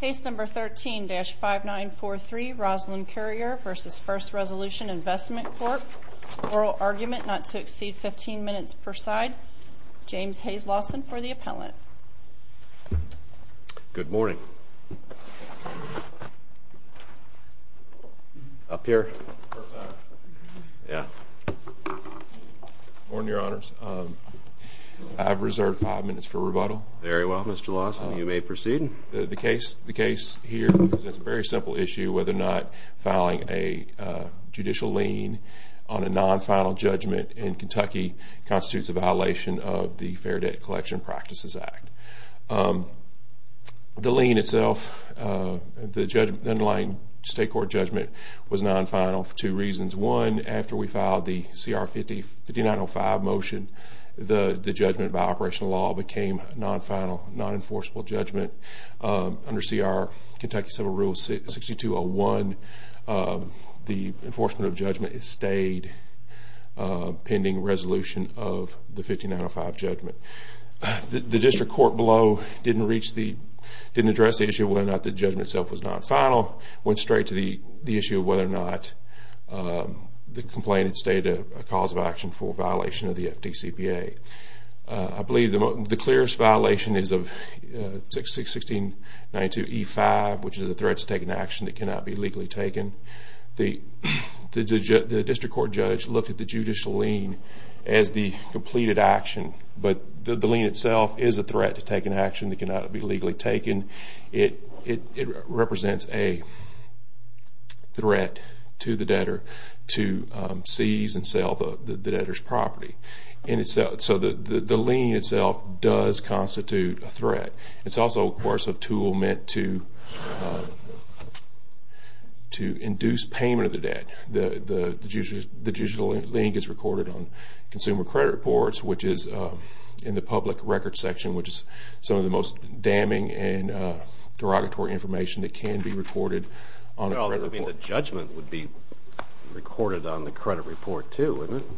Case No. 13-5943, Roslyn Currier v. First Resolution Investment Corp. Oral argument not to exceed 15 minutes per side. James Hayes Lawson for the appellant. Good morning. Up here? Yeah. Good morning, Your Honors. I've reserved five minutes for rebuttal. Very well, Mr. Lawson. You may proceed. The case here presents a very simple issue, whether or not filing a judicial lien on a non-final judgment in Kentucky constitutes a violation of the Fair Debt Collection Practices Act. The lien itself, the underlying state court judgment, was non-final for two reasons. One, after we filed the CR 5905 motion, the judgment by operational law became non-final, non-enforceable judgment. Under CR Kentucky Civil Rule 6201, the enforcement of judgment stayed pending resolution of the 5905 judgment. The district court below didn't address the issue of whether or not the judgment itself was non-final. It went straight to the issue of whether or not the complaint had stated a cause of action for a violation of the FDCPA. I believe the clearest violation is of 61692E5, which is the threat to take an action that cannot be legally taken. The district court judge looked at the judicial lien as the completed action, but the lien itself is a threat to take an action that cannot be legally taken. It represents a threat to the debtor to seize and sell the debtor's property. So the lien itself does constitute a threat. It's also, of course, a tool meant to induce payment of the debt. The judicial lien gets recorded on consumer credit reports, which is in the public records section, which is some of the most damning and derogatory information that can be recorded on a credit report. The judgment would be recorded on the credit report, too, wouldn't it?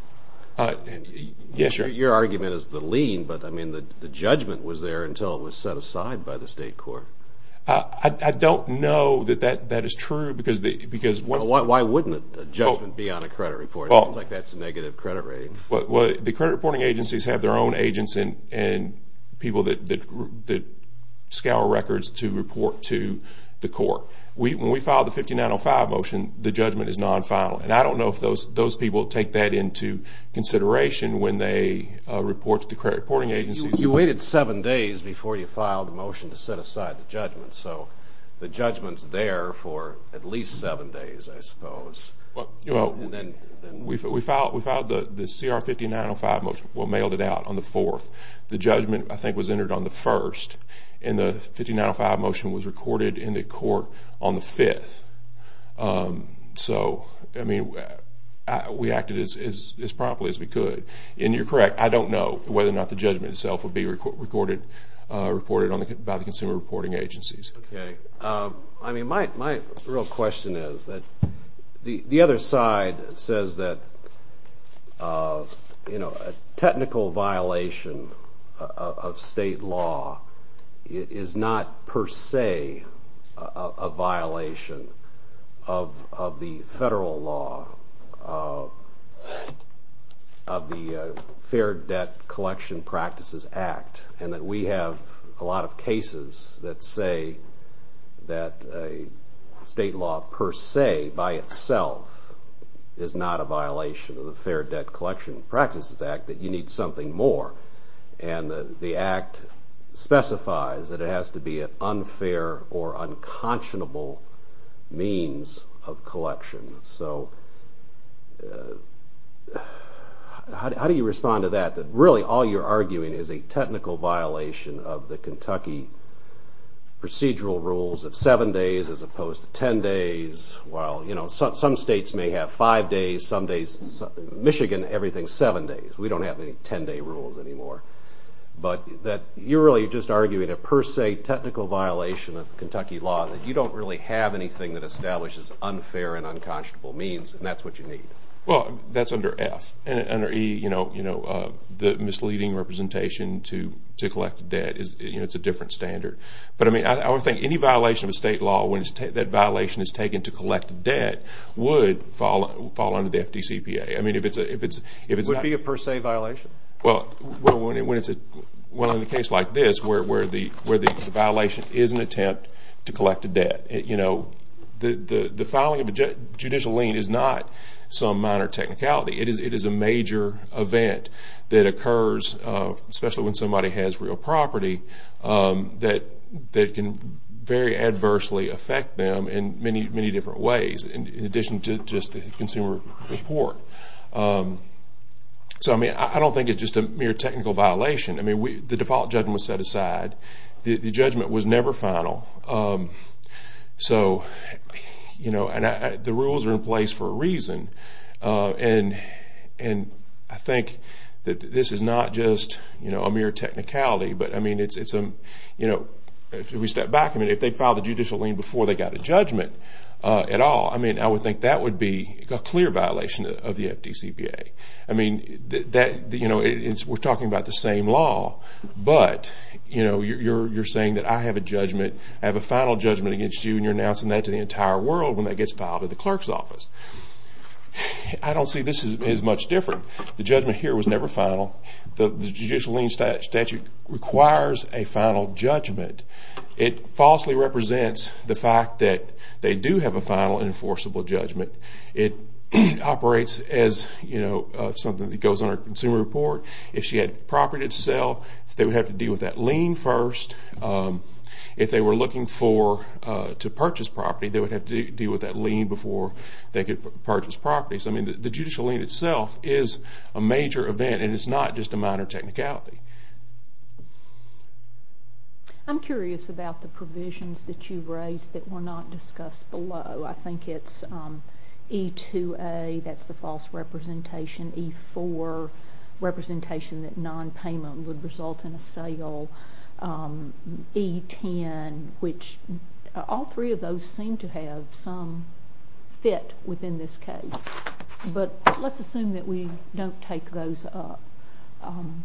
Yes, sir. Your argument is the lien, but the judgment was there until it was set aside by the state court. I don't know that that is true. Why wouldn't the judgment be on a credit report? It sounds like that's a negative credit rating. The credit reporting agencies have their own agents and people that scour records to report to the court. When we filed the 5905 motion, the judgment is non-final, and I don't know if those people take that into consideration when they report to the credit reporting agencies. You waited seven days before you filed the motion to set aside the judgment, so the judgment's there for at least seven days, I suppose. We filed the CR 5905 motion. We mailed it out on the 4th. The judgment, I think, was entered on the 1st, and the 5905 motion was recorded in the court on the 5th. So, I mean, we acted as promptly as we could. And you're correct, I don't know whether or not the judgment itself would be recorded by the consumer reporting agencies. Okay. I mean, my real question is that the other side says that, you know, a technical violation of state law is not per se a violation of the federal law of the Fair Debt Collection Practices Act and that we have a lot of cases that say that a state law per se, by itself, is not a violation of the Fair Debt Collection Practices Act, that you need something more. And the Act specifies that it has to be an unfair or unconscionable means of collection. So, how do you respond to that, that really all you're arguing is a technical violation of the Kentucky procedural rules of 7 days as opposed to 10 days? Well, you know, some states may have 5 days, some days, Michigan, everything's 7 days. We don't have any 10-day rules anymore. But you're really just arguing a per se technical violation of Kentucky law, that you don't really have anything that establishes unfair and unconscionable means, and that's what you need. Well, that's under F. Under E, you know, the misleading representation to collect debt, you know, it's a different standard. But, I mean, I would think any violation of a state law, when that violation is taken to collect debt, would fall under the FDCPA. I mean, if it's not… Would it be a per se violation? Well, in a case like this, where the violation is an attempt to collect a debt, you know, the filing of a judicial lien is not some minor technicality. It is a major event that occurs, especially when somebody has real property, that can very adversely affect them in many, many different ways, in addition to just the consumer report. So, I mean, I don't think it's just a mere technical violation. I mean, the default judgment was set aside. The judgment was never final. So, you know, the rules are in place for a reason. And I think that this is not just, you know, a mere technicality. But, I mean, it's, you know, if we step back, I mean, if they filed the judicial lien before they got a judgment at all, I mean, I would think that would be a clear violation of the FDCPA. I mean, you know, we're talking about the same law, but, you know, you're saying that I have a judgment, I have a final judgment against you, and you're announcing that to the entire world when that gets filed at the clerk's office. I don't see this as much different. The judgment here was never final. The judicial lien statute requires a final judgment. It falsely represents the fact that they do have a final enforceable judgment. It operates as, you know, something that goes under a consumer report. If she had property to sell, they would have to deal with that lien first. If they were looking to purchase property, they would have to deal with that lien before they could purchase property. So, I mean, the judicial lien itself is a major event, and it's not just a minor technicality. I'm curious about the provisions that you raised that were not discussed below. I think it's E2A, that's the false representation, E4, representation that nonpayment would result in a sale, E10, which all three of those seem to have some fit within this case. But let's assume that we don't take those up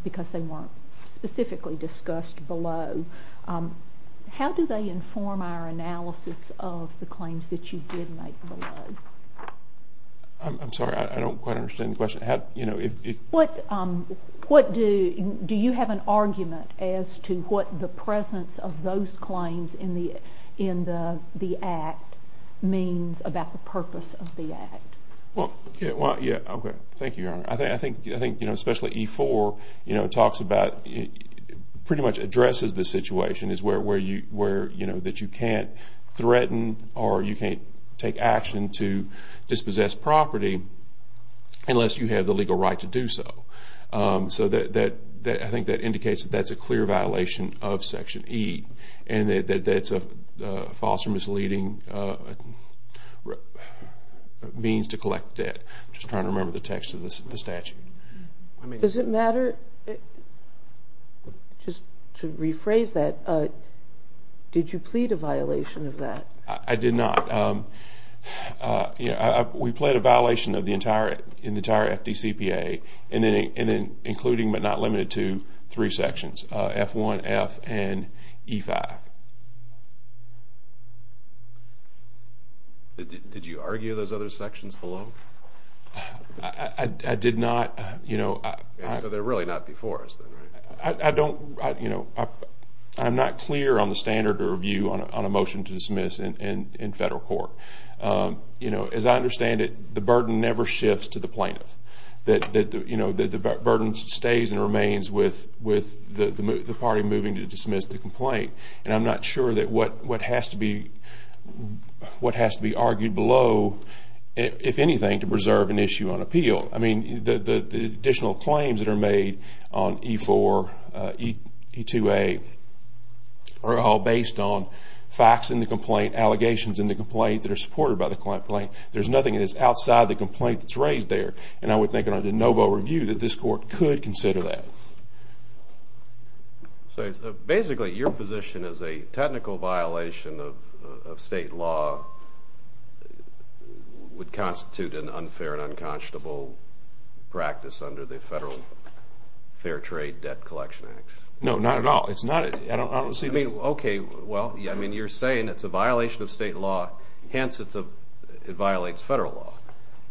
because they weren't specifically discussed below. How do they inform our analysis of the claims that you did make below? I'm sorry, I don't quite understand the question. Do you have an argument as to what the presence of those claims in the Act means about the purpose of the Act? Well, yeah, okay, thank you, Your Honor. I think, you know, especially E4, you know, talks about, pretty much addresses the situation is where, you know, that you can't threaten or you can't take action to dispossess property unless you have the legal right to do so. So I think that indicates that that's a clear violation of Section E and that that's a false or misleading means to collect debt. I'm just trying to remember the text of the statute. Does it matter? Just to rephrase that, did you plead a violation of that? I did not. We pled a violation in the entire FDCPA, including but not limited to three sections, F1, F, and E5. Did you argue those other sections below? I did not, you know. So they're really not before us then, right? I don't, you know, I'm not clear on the standard of review on a motion to dismiss in federal court. You know, as I understand it, the burden never shifts to the plaintiff. You know, the burden stays and remains with the party moving to dismiss the complaint. And I'm not sure that what has to be argued below, if anything, to preserve an issue on appeal. I mean, the additional claims that are made on E4, E2A, are all based on facts in the complaint, allegations in the complaint that are supported by the complaint. There's nothing that's outside the complaint that's raised there. And I would think under no vote review that this court could consider that. Basically, your position is a technical violation of state law would constitute an unfair and unconscionable practice under the Federal Fair Trade Debt Collection Act. No, not at all. It's not. I don't see this. Okay. Well, I mean, you're saying it's a violation of state law. Hence, it violates federal law.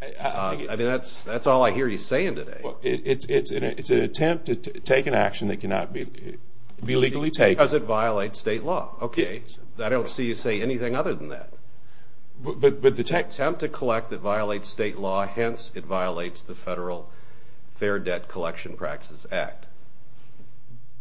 I mean, that's all I hear you saying today. It's an attempt to take an action that cannot be legally taken. Because it violates state law. Okay. I don't see you say anything other than that. But the text… It's an attempt to collect that violates state law. Hence, it violates the Federal Fair Debt Collection Practices Act.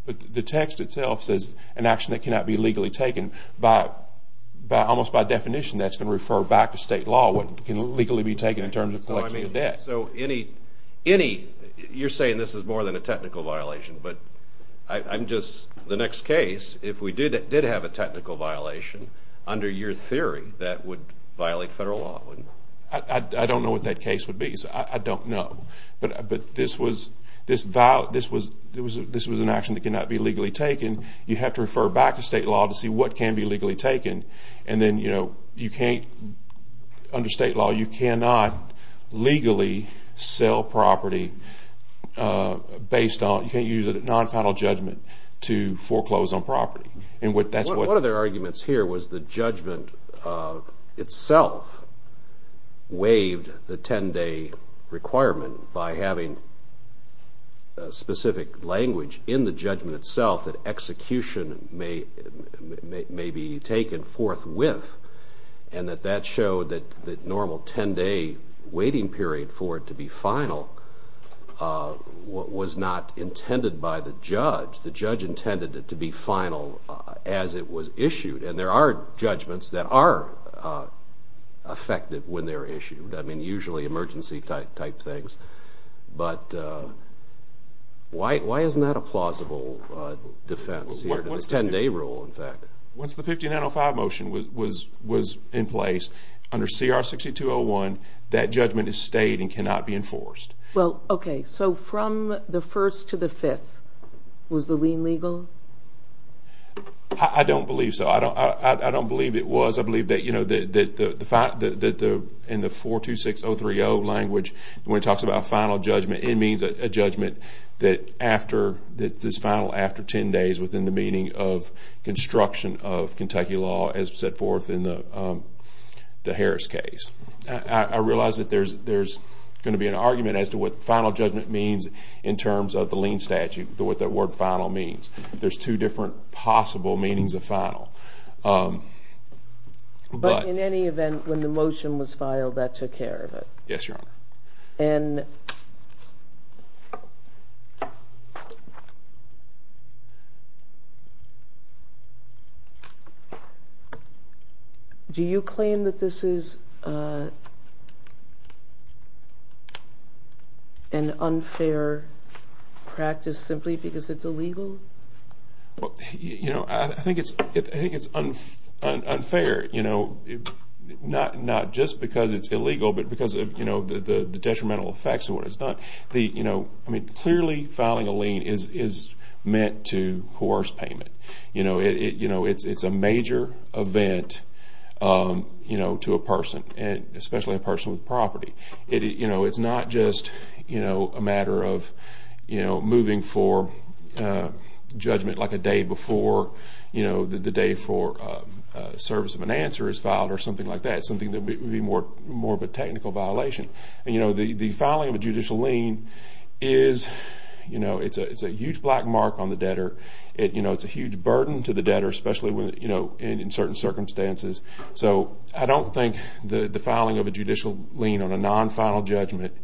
But the text itself says an action that cannot be legally taken. Almost by definition, that's going to refer back to state law, what can legally be taken in terms of collection of debt. So, you're saying this is more than a technical violation. But I'm just… The next case, if we did have a technical violation, under your theory, that would violate federal law, wouldn't it? I don't know what that case would be. I don't know. But this was an action that cannot be legally taken. You have to refer back to state law to see what can be legally taken. And then, you know, you can't… Under state law, you cannot legally sell property based on… You can't use a non-final judgment to foreclose on property. And that's what… itself waived the 10-day requirement by having specific language in the judgment itself that execution may be taken forthwith. And that that showed that the normal 10-day waiting period for it to be final was not intended by the judge. The judge intended it to be final as it was issued. And there are judgments that are effective when they're issued. I mean, usually emergency-type things. But why isn't that a plausible defense here to the 10-day rule, in fact? Once the 5905 motion was in place, under CR 6201, that judgment is state and cannot be enforced. Well, okay. So, from the 1st to the 5th, was the lien legal? I don't believe so. I don't believe it was. I believe that, you know, in the 426030 language, when it talks about final judgment, it means a judgment that is final after 10 days within the meaning of construction of Kentucky law as set forth in the Harris case. I realize that there's going to be an argument as to what final judgment means in terms of the lien statute, what that word final means. There's two different possible meanings of final. But in any event, when the motion was filed, that took care of it. Yes, Your Honor. And do you claim that this is an unfair practice simply because it's illegal? You know, I think it's unfair. You know, not just because it's illegal, but because of, you know, the detrimental effects of what it's done. You know, I mean, clearly filing a lien is meant to coerce payment. You know, it's a major event, you know, to a person, especially a person with property. You know, it's not just, you know, a matter of, you know, moving for judgment like a day before, you know, the day for service of an answer is filed or something like that, something that would be more of a technical violation. And, you know, the filing of a judicial lien is, you know, it's a huge black mark on the debtor. You know, it's a huge burden to the debtor, especially, you know, in certain circumstances. So I don't think the filing of a judicial lien on a non-final judgment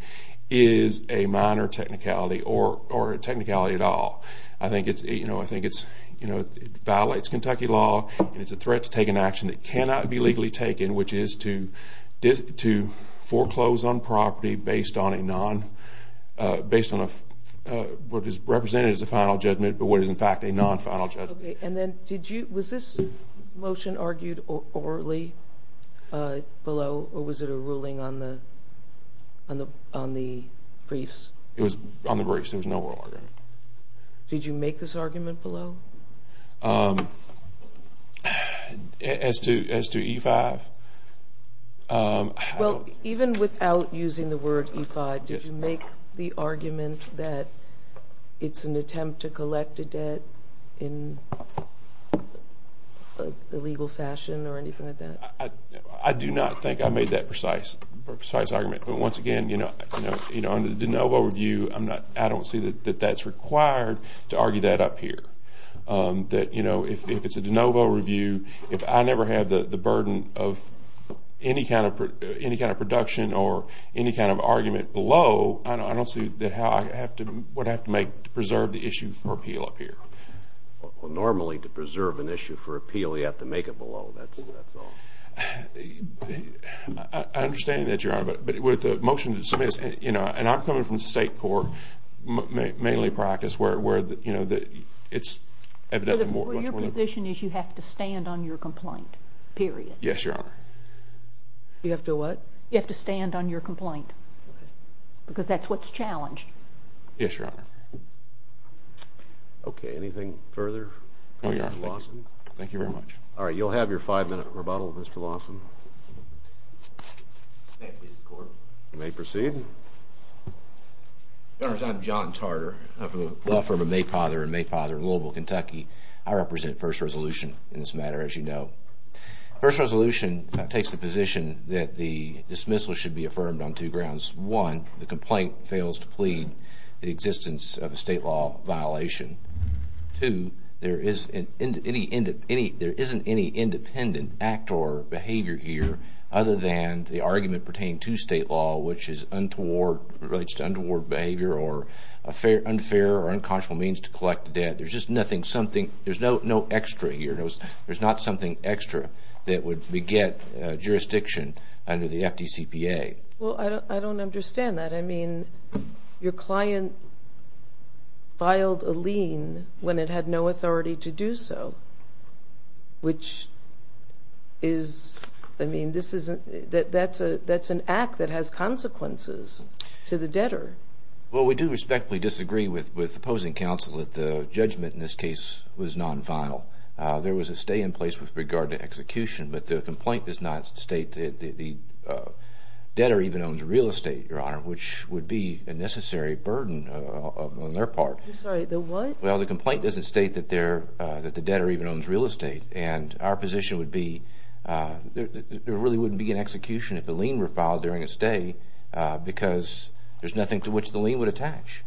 is a minor technicality or a technicality at all. I think it's, you know, I think it's, you know, it violates Kentucky law, and it's a threat to take an action that cannot be legally taken, which is to foreclose on property based on a non-based on what is represented as a final judgment, but what is, in fact, a non-final judgment. Okay. And then did you, was this motion argued orally below, or was it a ruling on the briefs? It was on the briefs. There was no oral argument. Did you make this argument below? As to E-5? Well, even without using the word E-5, did you make the argument that it's an attempt to collect a debt in a legal fashion or anything like that? I do not think I made that precise argument. But once again, you know, on the de novo review, I don't see that that's required to argue that up here. That, you know, if it's a de novo review, if I never have the burden of any kind of production or any kind of argument below, I don't see that how I have to, what I have to make to preserve the issue for appeal up here. Well, normally to preserve an issue for appeal, you have to make it below. That's all. I understand that, Your Honor, but with the motion to dismiss, you know, and I'm coming from the state court, mainly practice, where, you know, it's evidently much more. My position is you have to stand on your complaint, period. Yes, Your Honor. You have to what? You have to stand on your complaint because that's what's challenged. Yes, Your Honor. Okay, anything further? No, Your Honor. Thank you very much. All right, you'll have your five-minute rebuttal, Mr. Lawson. You may proceed. Your Honors, I'm John Tarter. I'm from the law firm of Mayfather & Mayfather in Louisville, Kentucky. I represent First Resolution in this matter, as you know. First Resolution takes the position that the dismissal should be affirmed on two grounds. One, the complaint fails to plead the existence of a state law violation. Two, there isn't any independent act or behavior here other than the argument pertaining to state law, which relates to untoward behavior or unfair or unconscionable means to collect the debt. There's just nothing, there's no extra here. There's not something extra that would beget jurisdiction under the FDCPA. Well, I don't understand that. I mean, your client filed a lien when it had no authority to do so, which is, I mean, that's an act that has consequences to the debtor. Well, we do respectfully disagree with opposing counsel that the judgment in this case was non-vile. There was a stay in place with regard to execution, but the complaint does not state that the debtor even owns real estate, Your Honor, which would be a necessary burden on their part. I'm sorry, the what? Well, the complaint doesn't state that the debtor even owns real estate, and our position would be there really wouldn't be an execution if the lien were filed during a stay because there's nothing to which the lien would attach.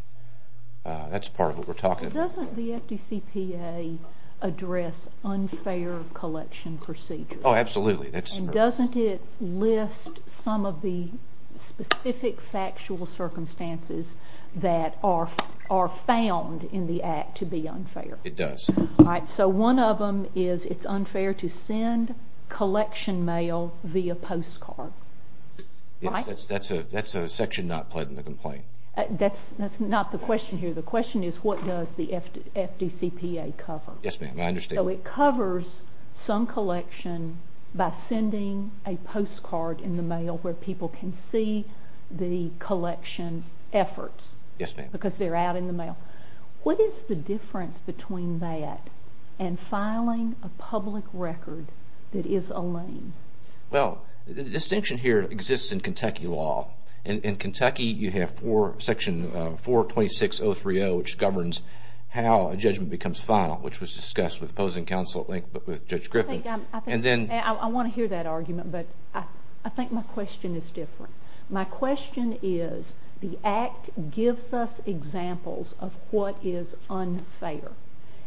That's part of what we're talking about. Doesn't the FDCPA address unfair collection procedures? Oh, absolutely. And doesn't it list some of the specific factual circumstances that are found in the act to be unfair? It does. All right, so one of them is it's unfair to send collection mail via postcard, right? Yes, that's a section not pled in the complaint. That's not the question here. The question is what does the FDCPA cover? Yes, ma'am, I understand. So it covers some collection by sending a postcard in the mail where people can see the collection efforts. Because they're out in the mail. What is the difference between that and filing a public record that is a lien? Well, the distinction here exists in Kentucky law. In Kentucky, you have Section 426.030, which governs how a judgment becomes final, which was discussed with opposing counsel at length with Judge Griffin. I want to hear that argument, but I think my question is different. My question is the act gives us examples of what is unfair.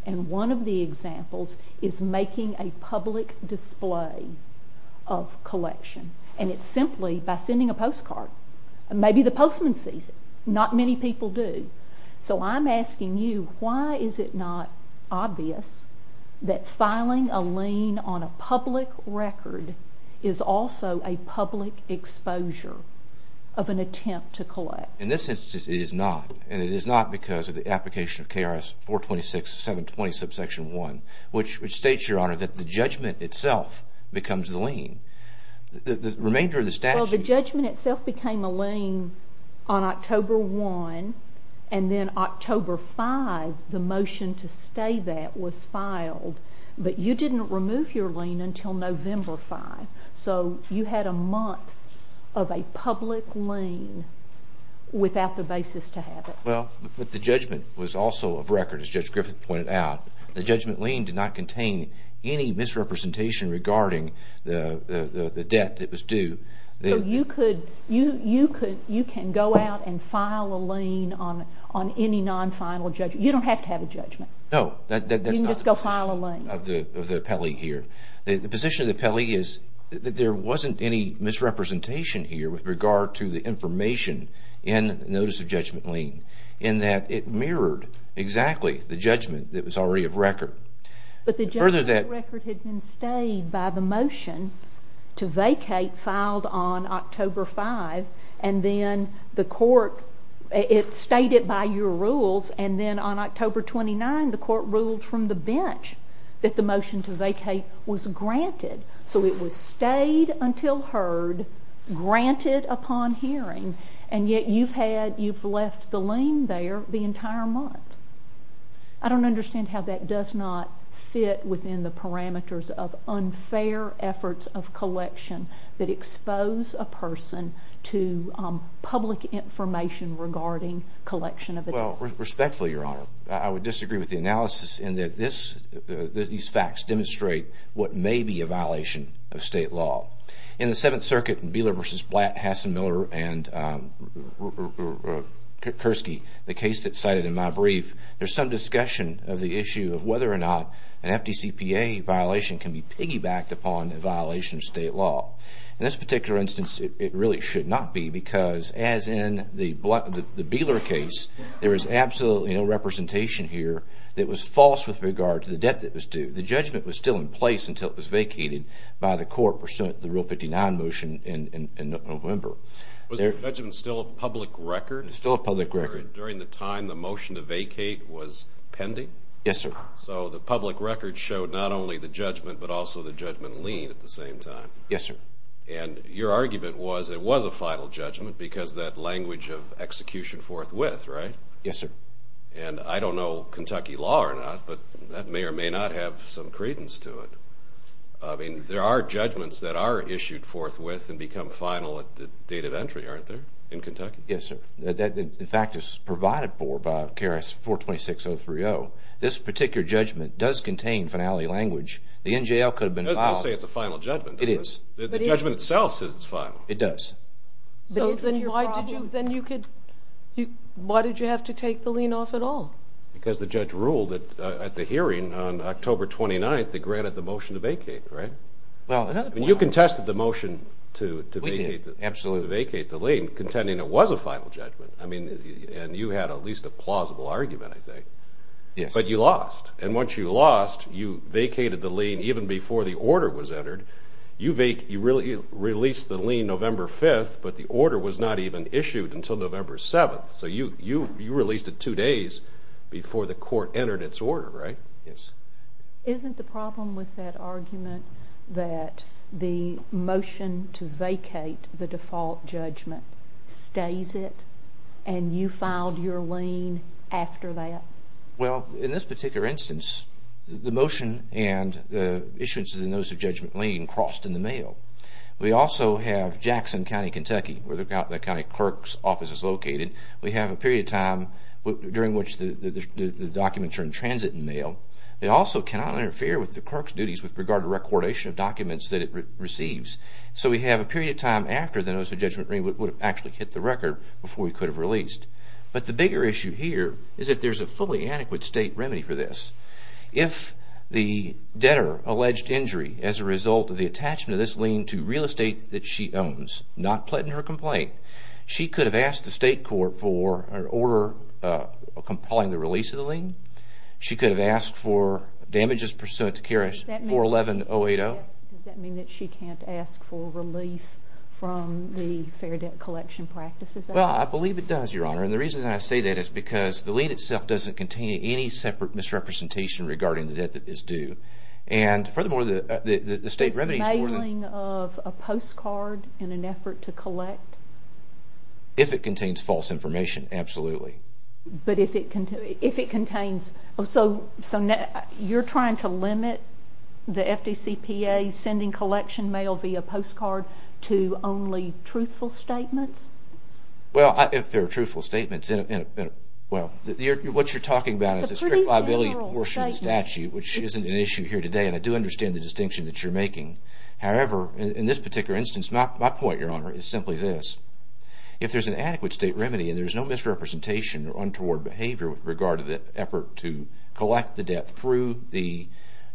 And one of the examples is making a public display of collection. And it's simply by sending a postcard. Maybe the postman sees it. Not many people do. So I'm asking you, why is it not obvious that filing a lien on a public record is also a public exposure of an attempt to collect? In this instance, it is not. And it is not because of the application of KRS 426.720, subsection 1, which states, Your Honor, that the judgment itself becomes the lien. The remainder of the statute… on October 1, and then October 5, the motion to stay that was filed. But you didn't remove your lien until November 5. So you had a month of a public lien without the basis to have it. Well, but the judgment was also a record, as Judge Griffin pointed out. The judgment lien did not contain any misrepresentation regarding the debt that was due. So you could go out and file a lien on any non-final judgment. You don't have to have a judgment. No, that's not the position of the appellee here. The position of the appellee is that there wasn't any misrepresentation here with regard to the information in the notice of judgment lien, in that it mirrored exactly the judgment that was already of record. But the judgment record had been stayed by the motion to vacate filed on October 5, and then the court stated by your rules, and then on October 29, the court ruled from the bench that the motion to vacate was granted. So it was stayed until heard, granted upon hearing, and yet you've left the lien there the entire month. I don't understand how that does not fit within the parameters of unfair efforts of collection that expose a person to public information regarding collection of a debt. Well, respectfully, Your Honor, I would disagree with the analysis in that these facts demonstrate what may be a violation of state law. In the Seventh Circuit in Beeler v. Blatt, Hassen-Miller, and Kurski, the case that's cited in my brief, there's some discussion of the issue of whether or not an FDCPA violation can be piggybacked upon a violation of state law. In this particular instance, it really should not be, because as in the Beeler case, there is absolutely no representation here that was false with regard to the debt that was due. The judgment was still in place until it was vacated by the court for the Rule 59 motion in November. Was the judgment still a public record? Still a public record. During the time the motion to vacate was pending? Yes, sir. So the public record showed not only the judgment, but also the judgment lien at the same time? Yes, sir. And your argument was it was a final judgment because that language of execution forthwith, right? Yes, sir. And I don't know Kentucky law or not, but that may or may not have some credence to it. I mean, there are judgments that are issued forthwith and become final at the date of entry, aren't there, in Kentucky? Yes, sir. The fact is provided for by KRS 426.030. This particular judgment does contain finality language. The NJL could have been involved. They'll say it's a final judgment. It is. The judgment itself says it's final. It does. So then why did you have to take the lien off at all? Because the judge ruled at the hearing on October 29th that granted the motion to vacate, right? Well, another point. You contested the motion to vacate the lien, contending it was a final judgment. I mean, and you had at least a plausible argument, I think. Yes. But you lost. And once you lost, you vacated the lien even before the order was entered. You released the lien November 5th, but the order was not even issued until November 7th. So you released it two days before the court entered its order, right? Yes. Isn't the problem with that argument that the motion to vacate the default judgment stays it and you filed your lien after that? Well, in this particular instance, the motion and the issuance of the notice of judgment lien crossed in the mail. We also have Jackson County, Kentucky, where the county clerk's office is located. We have a period of time during which the documents are in transit in mail. They also cannot interfere with the clerk's duties with regard to recordation of documents that it receives. So we have a period of time after the notice of judgment lien would have actually hit the record before we could have released. But the bigger issue here is that there's a fully adequate state remedy for this. If the debtor alleged injury as a result of the attachment of this lien to real estate that she owns, not pledging her complaint, she could have asked the state court for an order compiling the release of the lien. She could have asked for damages pursuant to Carriage 411-080. Does that mean that she can't ask for relief from the fair debt collection practices? Well, I believe it does, Your Honor. And the reason I say that is because the lien itself doesn't contain any separate misrepresentation regarding the debt that is due. And furthermore, the state remedies for the… Mailing of a postcard in an effort to collect? If it contains false information, absolutely. But if it contains… So you're trying to limit the FDCPA's sending collection mail via postcard to only truthful statements? Well, if there are truthful statements… What you're talking about is a strict liability portion of the statute, which isn't an issue here today, and I do understand the distinction that you're making. However, in this particular instance, my point, Your Honor, is simply this. If there's an adequate state remedy and there's no misrepresentation or untoward behavior with regard to the effort to collect the debt through the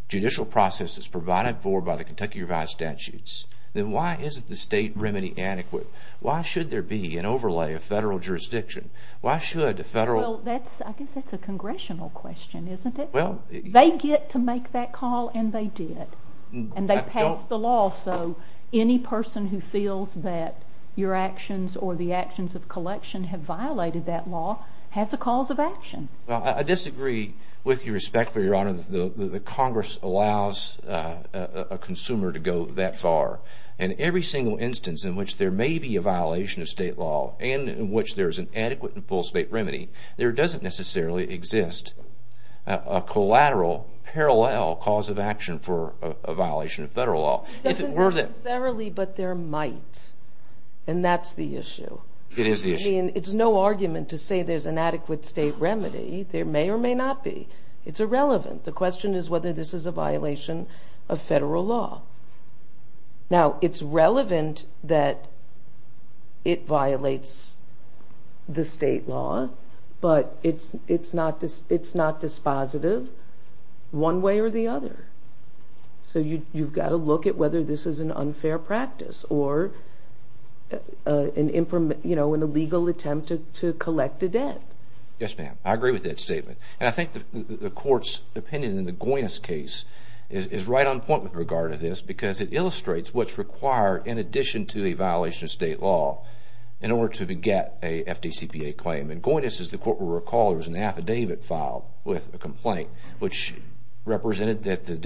judicial process that's provided for by the Kentucky Revised Statutes, then why isn't the state remedy adequate? Why should there be an overlay of federal jurisdiction? Why should a federal… Well, I guess that's a congressional question, isn't it? Well… They get to make that call, and they did. And they passed the law, so any person who feels that your actions or the actions of collection have violated that law has a cause of action. Well, I disagree with your respect, Your Honor, that Congress allows a consumer to go that far. In every single instance in which there may be a violation of state law and in which there is an adequate and full state remedy, there doesn't necessarily exist a collateral, parallel cause of action for a violation of federal law. It doesn't necessarily, but there might. And that's the issue. It is the issue. I mean, it's no argument to say there's an adequate state remedy. There may or may not be. It's irrelevant. The question is whether this is a violation of federal law. Now, it's relevant that it violates the state law, but it's not dispositive one way or the other. So you've got to look at whether this is an unfair practice or an illegal attempt to collect a debt. Yes, ma'am. I agree with that statement. And I think the Court's opinion in the Goynis case is right on point with regard to this because it illustrates what's required in addition to a violation of state law in order to get a FDCPA claim. In Goynis, as the Court will recall, there was an affidavit filed with a complaint which represented that the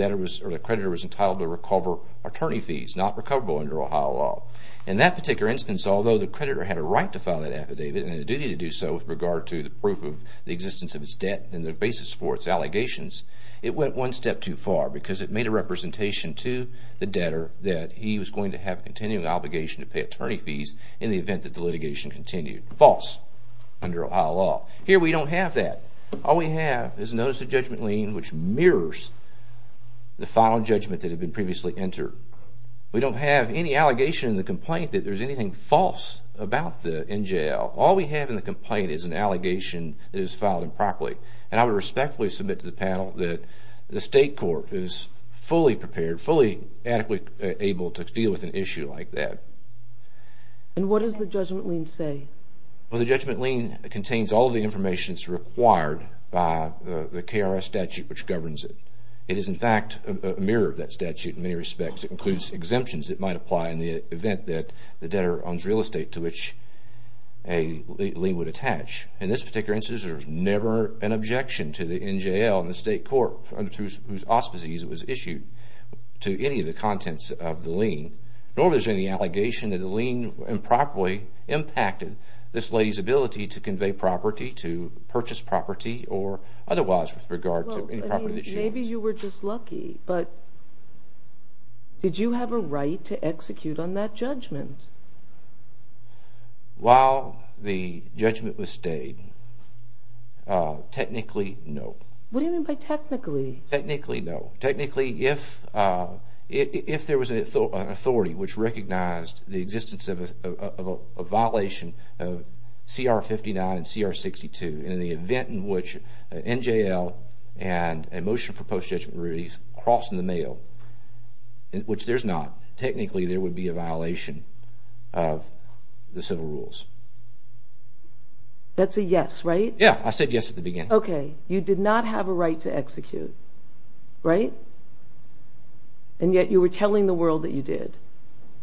creditor was entitled to recover attorney fees, not recoverable under Ohio law. In that particular instance, although the creditor had a right to file that affidavit and a duty to do so with regard to the proof of the existence of its debt and the basis for its allegations, it went one step too far because it made a representation to the debtor that he was going to have a continuing obligation to pay attorney fees in the event that the litigation continued. False under Ohio law. Here we don't have that. All we have is a notice of judgment lien which mirrors the final judgment that had been previously entered. We don't have any allegation in the complaint that there's anything false about the NJL. All we have in the complaint is an allegation that is filed improperly. And I would respectfully submit to the panel that the State Court is fully prepared, fully adequately able to deal with an issue like that. And what does the judgment lien say? Well, the judgment lien contains all the information that's required by the KRS statute which governs it. It is, in fact, a mirror of that statute in many respects. It includes exemptions that might apply in the event that the debtor owns real estate to which a lien would attach. In this particular instance, there was never an objection to the NJL and the State Court whose auspices it was issued to any of the contents of the lien, nor was there any allegation that a lien improperly impacted this lady's ability to convey property, to purchase property, or otherwise with regard to any property that she owns. Maybe you were just lucky, but did you have a right to execute on that judgment? While the judgment was stayed, technically, no. What do you mean by technically? Technically, no. Technically, if there was an authority which recognized the existence of a violation of CR 59 and CR 62 in the event in which an NJL and a motion for post-judgment release crossed in the mail, which there's not, technically there would be a violation of the civil rules. That's a yes, right? Yeah, I said yes at the beginning. Okay, you did not have a right to execute, right? And yet you were telling the world that you did.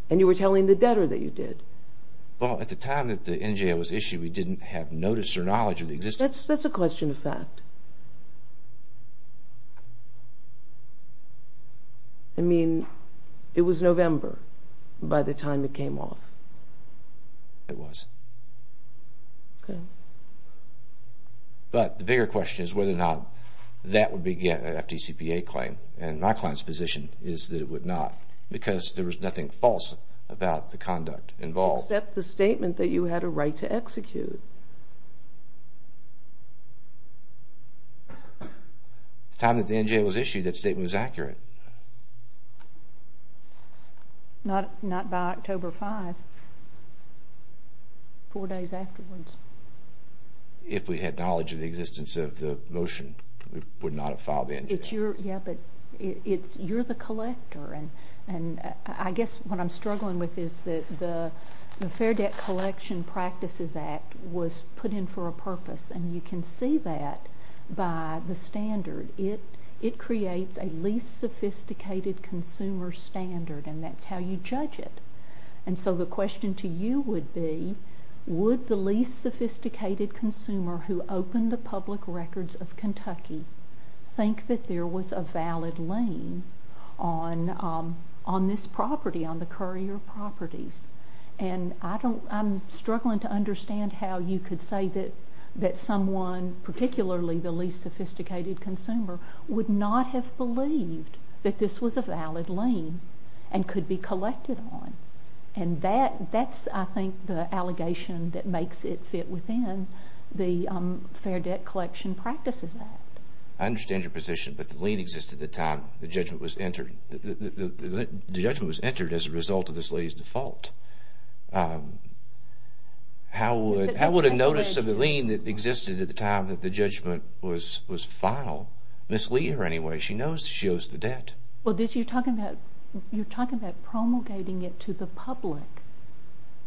And you were telling the debtor that you did. Well, at the time that the NJL was issued, we didn't have notice or knowledge of the existence. That's a question of fact. I mean, it was November by the time it came off. It was. Okay. But the bigger question is whether or not that would be an FDCPA claim, and my client's position is that it would not because there was nothing false about the conduct involved. Except the statement that you had a right to execute. At the time that the NJL was issued, that statement was accurate. Not by October 5th. Four days afterwards. If we had knowledge of the existence of the motion, we would not have filed the NJL. Yeah, but you're the collector, and I guess what I'm struggling with is that the Fair Debt Collection Practices Act was put in for a purpose, and you can see that by the standard. It creates a least sophisticated consumer standard, and that's how you judge it. And so the question to you would be, would the least sophisticated consumer who opened the public records of Kentucky think that there was a valid lien on this property, on the Currier properties? And I'm struggling to understand how you could say that someone, particularly the least sophisticated consumer, would not have believed that this was a valid lien and could be collected on. And that's, I think, the allegation that makes it fit within the Fair Debt Collection Practices Act. I understand your position, but the lien existed at the time the judgment was entered. The judgment was entered as a result of this lady's default. How would a notice of a lien that existed at the time that the judgment was filed mislead her anyway? She knows she owes the debt. Well, you're talking about promulgating it to the public.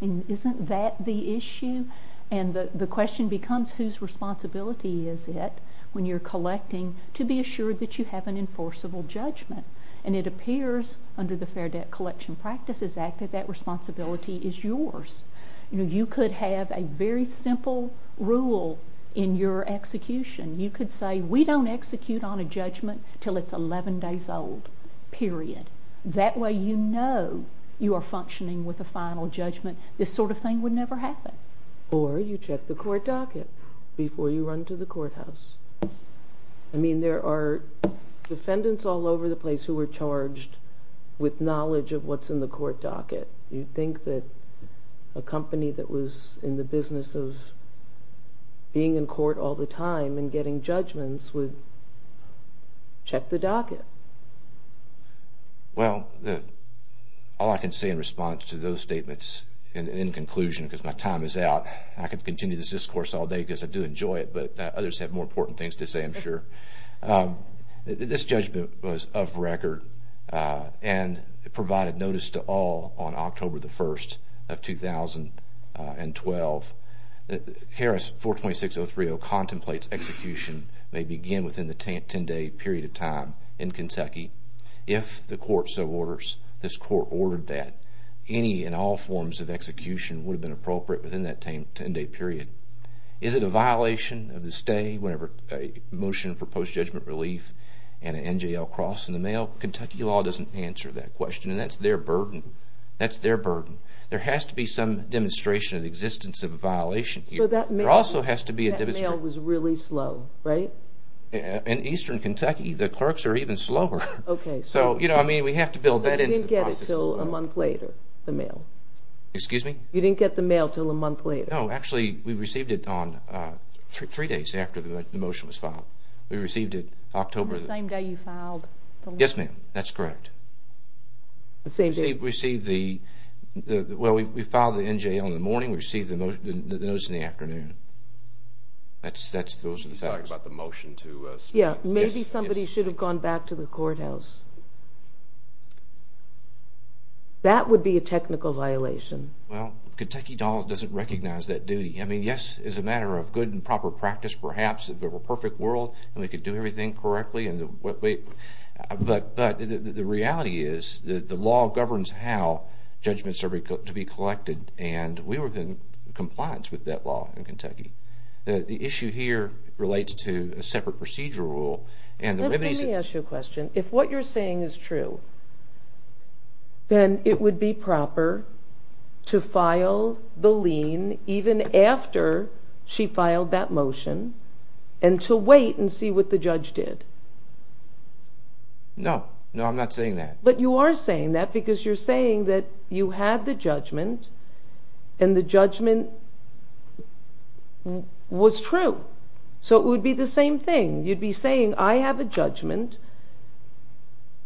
Isn't that the issue? And the question becomes, whose responsibility is it when you're collecting to be assured that you have an enforceable judgment? And it appears under the Fair Debt Collection Practices Act that that responsibility is yours. You could have a very simple rule in your execution. You could say, we don't execute on a judgment until it's 11 days old, period. That way you know you are functioning with a final judgment. This sort of thing would never happen. Or you check the court docket before you run to the courthouse. I mean, there are defendants all over the place who are charged with knowledge of what's in the court docket. You'd think that a company that was in the business of being in court all the time and getting judgments would check the docket. Well, all I can say in response to those statements, and in conclusion because my time is out, I could continue this discourse all day because I do enjoy it, but others have more important things to say, I'm sure. This judgment was of record and provided notice to all on October 1, 2012. Harris 426.030 contemplates execution may begin within the 10-day period of time in Kentucky. If the court so orders, this court ordered that, any and all forms of execution would have been appropriate within that 10-day period. Is it a violation of the stay whenever a motion for post-judgment relief and an NJL cross in the mail? Kentucky law doesn't answer that question, and that's their burden. That's their burden. There has to be some demonstration of the existence of a violation here. That mail was really slow, right? In eastern Kentucky, the clerks are even slower. Okay. I mean, we have to build that into the process as well. So you didn't get it until a month later, the mail? Excuse me? You didn't get the mail until a month later? No. Actually, we received it three days after the motion was filed. We received it October... On the same day you filed the... Yes, ma'am. That's correct. The same day? We received the... Well, we filed the NJL in the morning. We received the notice in the afternoon. That's... You're talking about the motion to... Yeah. Maybe somebody should have gone back to the courthouse. That would be a technical violation. Well, Kentucky doesn't recognize that duty. I mean, yes, it's a matter of good and proper practice, perhaps, if it were a perfect world and we could do everything correctly. But the reality is the law governs how judgments are to be collected, and we were in compliance with that law in Kentucky. The issue here relates to a separate procedural rule. Let me ask you a question. If what you're saying is true, then it would be proper to file the lien even after she filed that motion and to wait and see what the judge did. No. No, I'm not saying that. But you are saying that because you're saying that you had the judgment and the judgment was true. So it would be the same thing. You'd be saying, I have a judgment.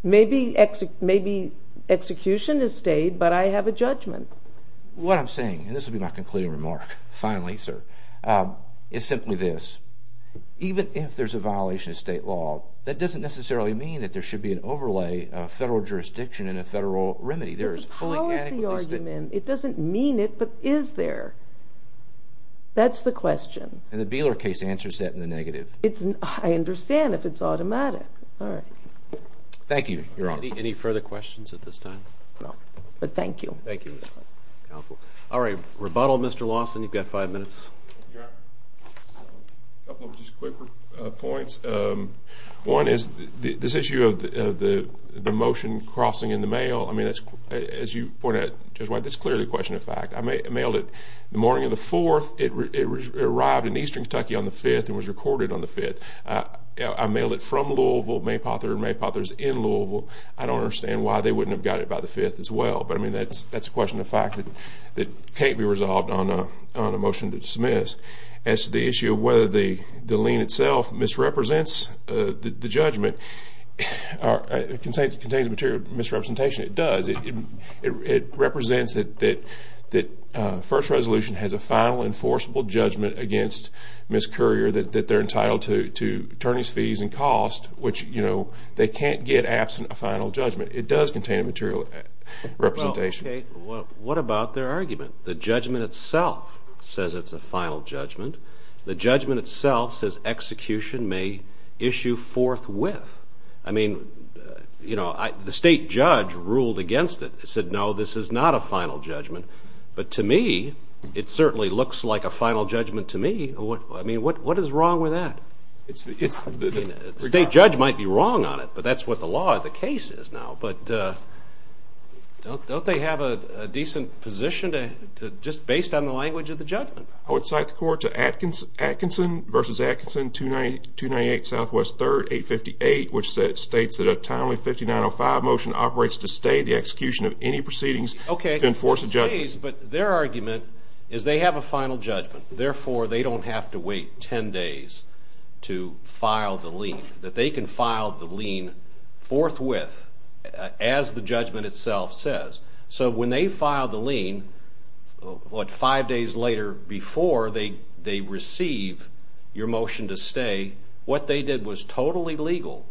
Maybe execution has stayed, but I have a judgment. What I'm saying, and this will be my concluding remark, finally, sir, is simply this. Even if there's a violation of state law, that doesn't necessarily mean that there should be an overlay of federal jurisdiction and a federal remedy. There is fully adequate... It's a policy argument. It doesn't mean it, but is there. That's the question. And the Beeler case answers that in the negative. I understand if it's automatic. All right. Thank you, Your Honor. Any further questions at this time? No. But thank you. Thank you, counsel. All right, rebuttal, Mr. Lawson. You've got five minutes. Your Honor, a couple of just quicker points. One is this issue of the motion crossing in the mail. As you pointed out, Judge White, this is clearly a question of fact. I mailed it the morning of the 4th. It arrived in eastern Kentucky on the 5th and was recorded on the 5th. I mailed it from Louisville, Maypother's in Louisville. I don't understand why they wouldn't have got it by the 5th as well. But, I mean, that's a question of fact that can't be resolved on a motion to dismiss. As to the issue of whether the lien itself misrepresents the judgment or contains a material misrepresentation, it does. It represents that First Resolution has a final enforceable judgment against Ms. Currier that they're entitled to attorney's fees and cost, which they can't get absent a final judgment. It does contain a material representation. Well, okay, what about their argument? The judgment itself says it's a final judgment. The judgment itself says execution may issue forthwith. I mean, the state judge ruled against it. It said, no, this is not a final judgment. But to me, it certainly looks like a final judgment to me. I mean, what is wrong with that? The state judge might be wrong on it, but that's what the law of the case is now. But don't they have a decent position just based on the language of the judgment? I would cite the court to Atkinson v. Atkinson, 298 Southwest 3rd, 858, which states that a timely 5905 motion operates to stay the execution of any proceedings to enforce a judgment. Okay, but their argument is they have a final judgment. Therefore, they don't have to wait ten days to file the lien, that they can file the lien forthwith as the judgment itself says. So when they file the lien, what, five days later before they receive your motion to stay, what they did was totally legal,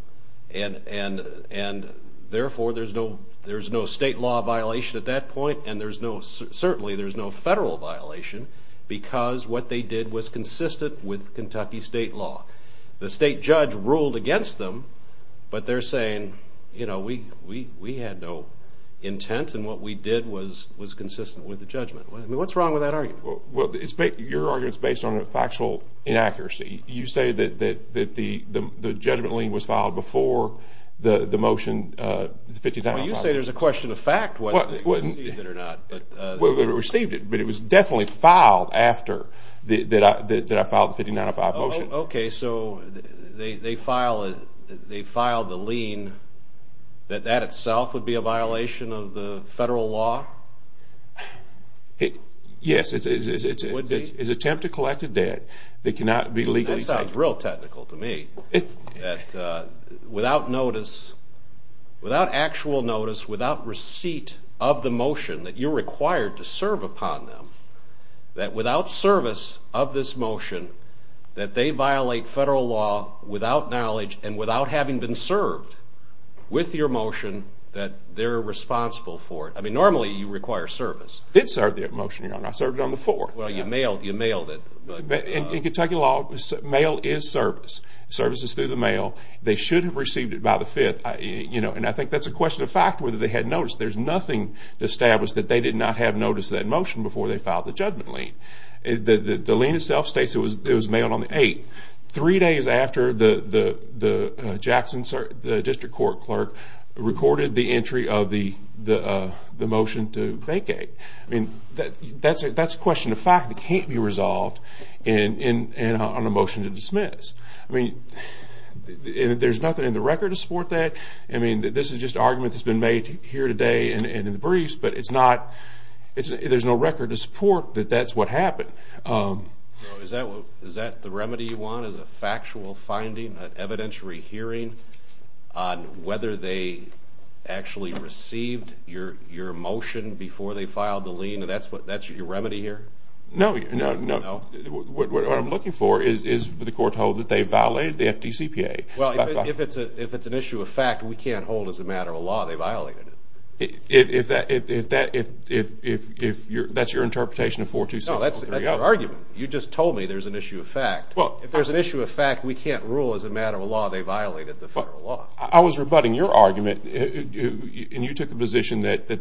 and therefore there's no state law violation at that point, and certainly there's no federal violation because what they did was consistent with Kentucky state law. The state judge ruled against them, but they're saying, you know, we had no intent and what we did was consistent with the judgment. I mean, what's wrong with that argument? Well, your argument is based on a factual inaccuracy. You say that the judgment lien was filed before the motion, the 5905 motion. Well, you say there's a question of fact whether they received it or not. Well, they received it, but it was definitely filed after that I filed the 5905 motion. Okay, so they filed the lien, that that itself would be a violation of the federal law? Yes. It would be? That sounds real technical to me, that without notice, without actual notice, without receipt of the motion that you're required to serve upon them, that without service of this motion, that they violate federal law without knowledge and without having been served with your motion that they're responsible for it. I mean, normally you require service. It served that motion, Your Honor. I served it on the 4th. Well, you mailed it. In Kentucky law, mail is service. Service is through the mail. They should have received it by the 5th, you know, and I think that's a question of fact whether they had noticed. There's nothing to establish that they did not have notice of that motion before they filed the judgment lien. The lien itself states it was mailed on the 8th, three days after the Jackson District Court clerk recorded the entry of the motion to vacate. I mean, that's a question of fact that can't be resolved on a motion to dismiss. I mean, there's nothing in the record to support that. I mean, this is just an argument that's been made here today and in the briefs, but there's no record to support that that's what happened. Is that the remedy you want is a factual finding, an evidentiary hearing, on whether they actually received your motion before they filed the lien, and that's your remedy here? No. No? No. What I'm looking for is for the court to hold that they violated the FDCPA. Well, if it's an issue of fact, we can't hold as a matter of law they violated it. If that's your interpretation of 426030. No, that's your argument. You just told me there's an issue of fact. If there's an issue of fact, we can't rule as a matter of law they violated the federal law. I was rebutting your argument, and you took the position that they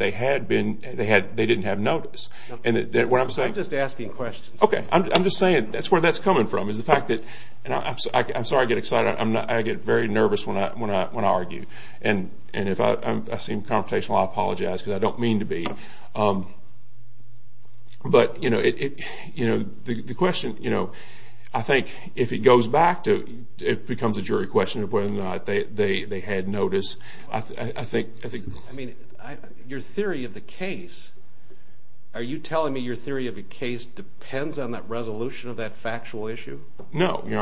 didn't have notice. I'm just asking questions. Okay. I'm just saying that's where that's coming from is the fact that, and I'm sorry I get excited. I get very nervous when I argue, and if I seem confrontational, I apologize because I don't mean to be. But, you know, the question, you know, I think if it goes back to it becomes a jury question of whether or not they had notice. I think. I mean, your theory of the case, are you telling me your theory of the case depends on that resolution of that factual issue? No, Your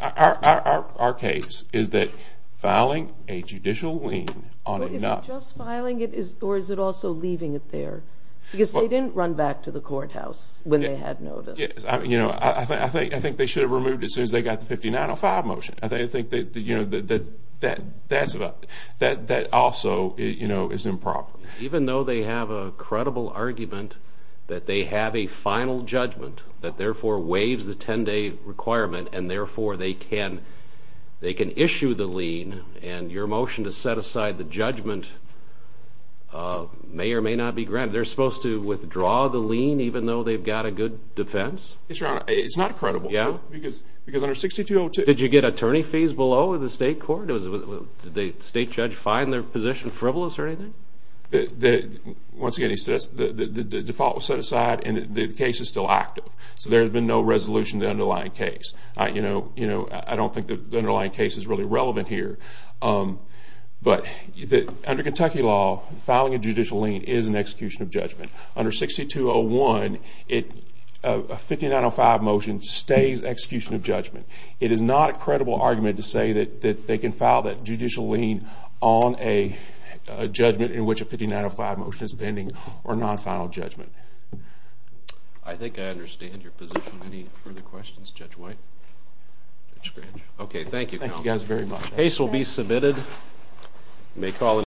Honor. Our case is that filing a judicial lien on enough. Just filing it, or is it also leaving it there? Because they didn't run back to the courthouse when they had notice. You know, I think they should have removed it as soon as they got the 5905 motion. I think, you know, that also, you know, is improper. Even though they have a credible argument that they have a final judgment that therefore waives the 10-day requirement, and therefore they can issue the lien, and your motion to set aside the judgment may or may not be granted. They're supposed to withdraw the lien even though they've got a good defense? It's not credible. Yeah. Because under 6202... Did you get attorney fees below the state court? Did the state judge find their position frivolous or anything? Once again, the default was set aside, and the case is still active. So there's been no resolution to the underlying case. You know, I don't think the underlying case is really relevant here. But under Kentucky law, filing a judicial lien is an execution of judgment. Under 6201, a 5905 motion stays execution of judgment. It is not a credible argument to say that they can file that judicial lien on a judgment in which a 5905 motion is pending or non-final judgment. I think I understand your position. Any further questions? Judge White? Judge Scrooge? Okay, thank you, counsel. The case will be submitted.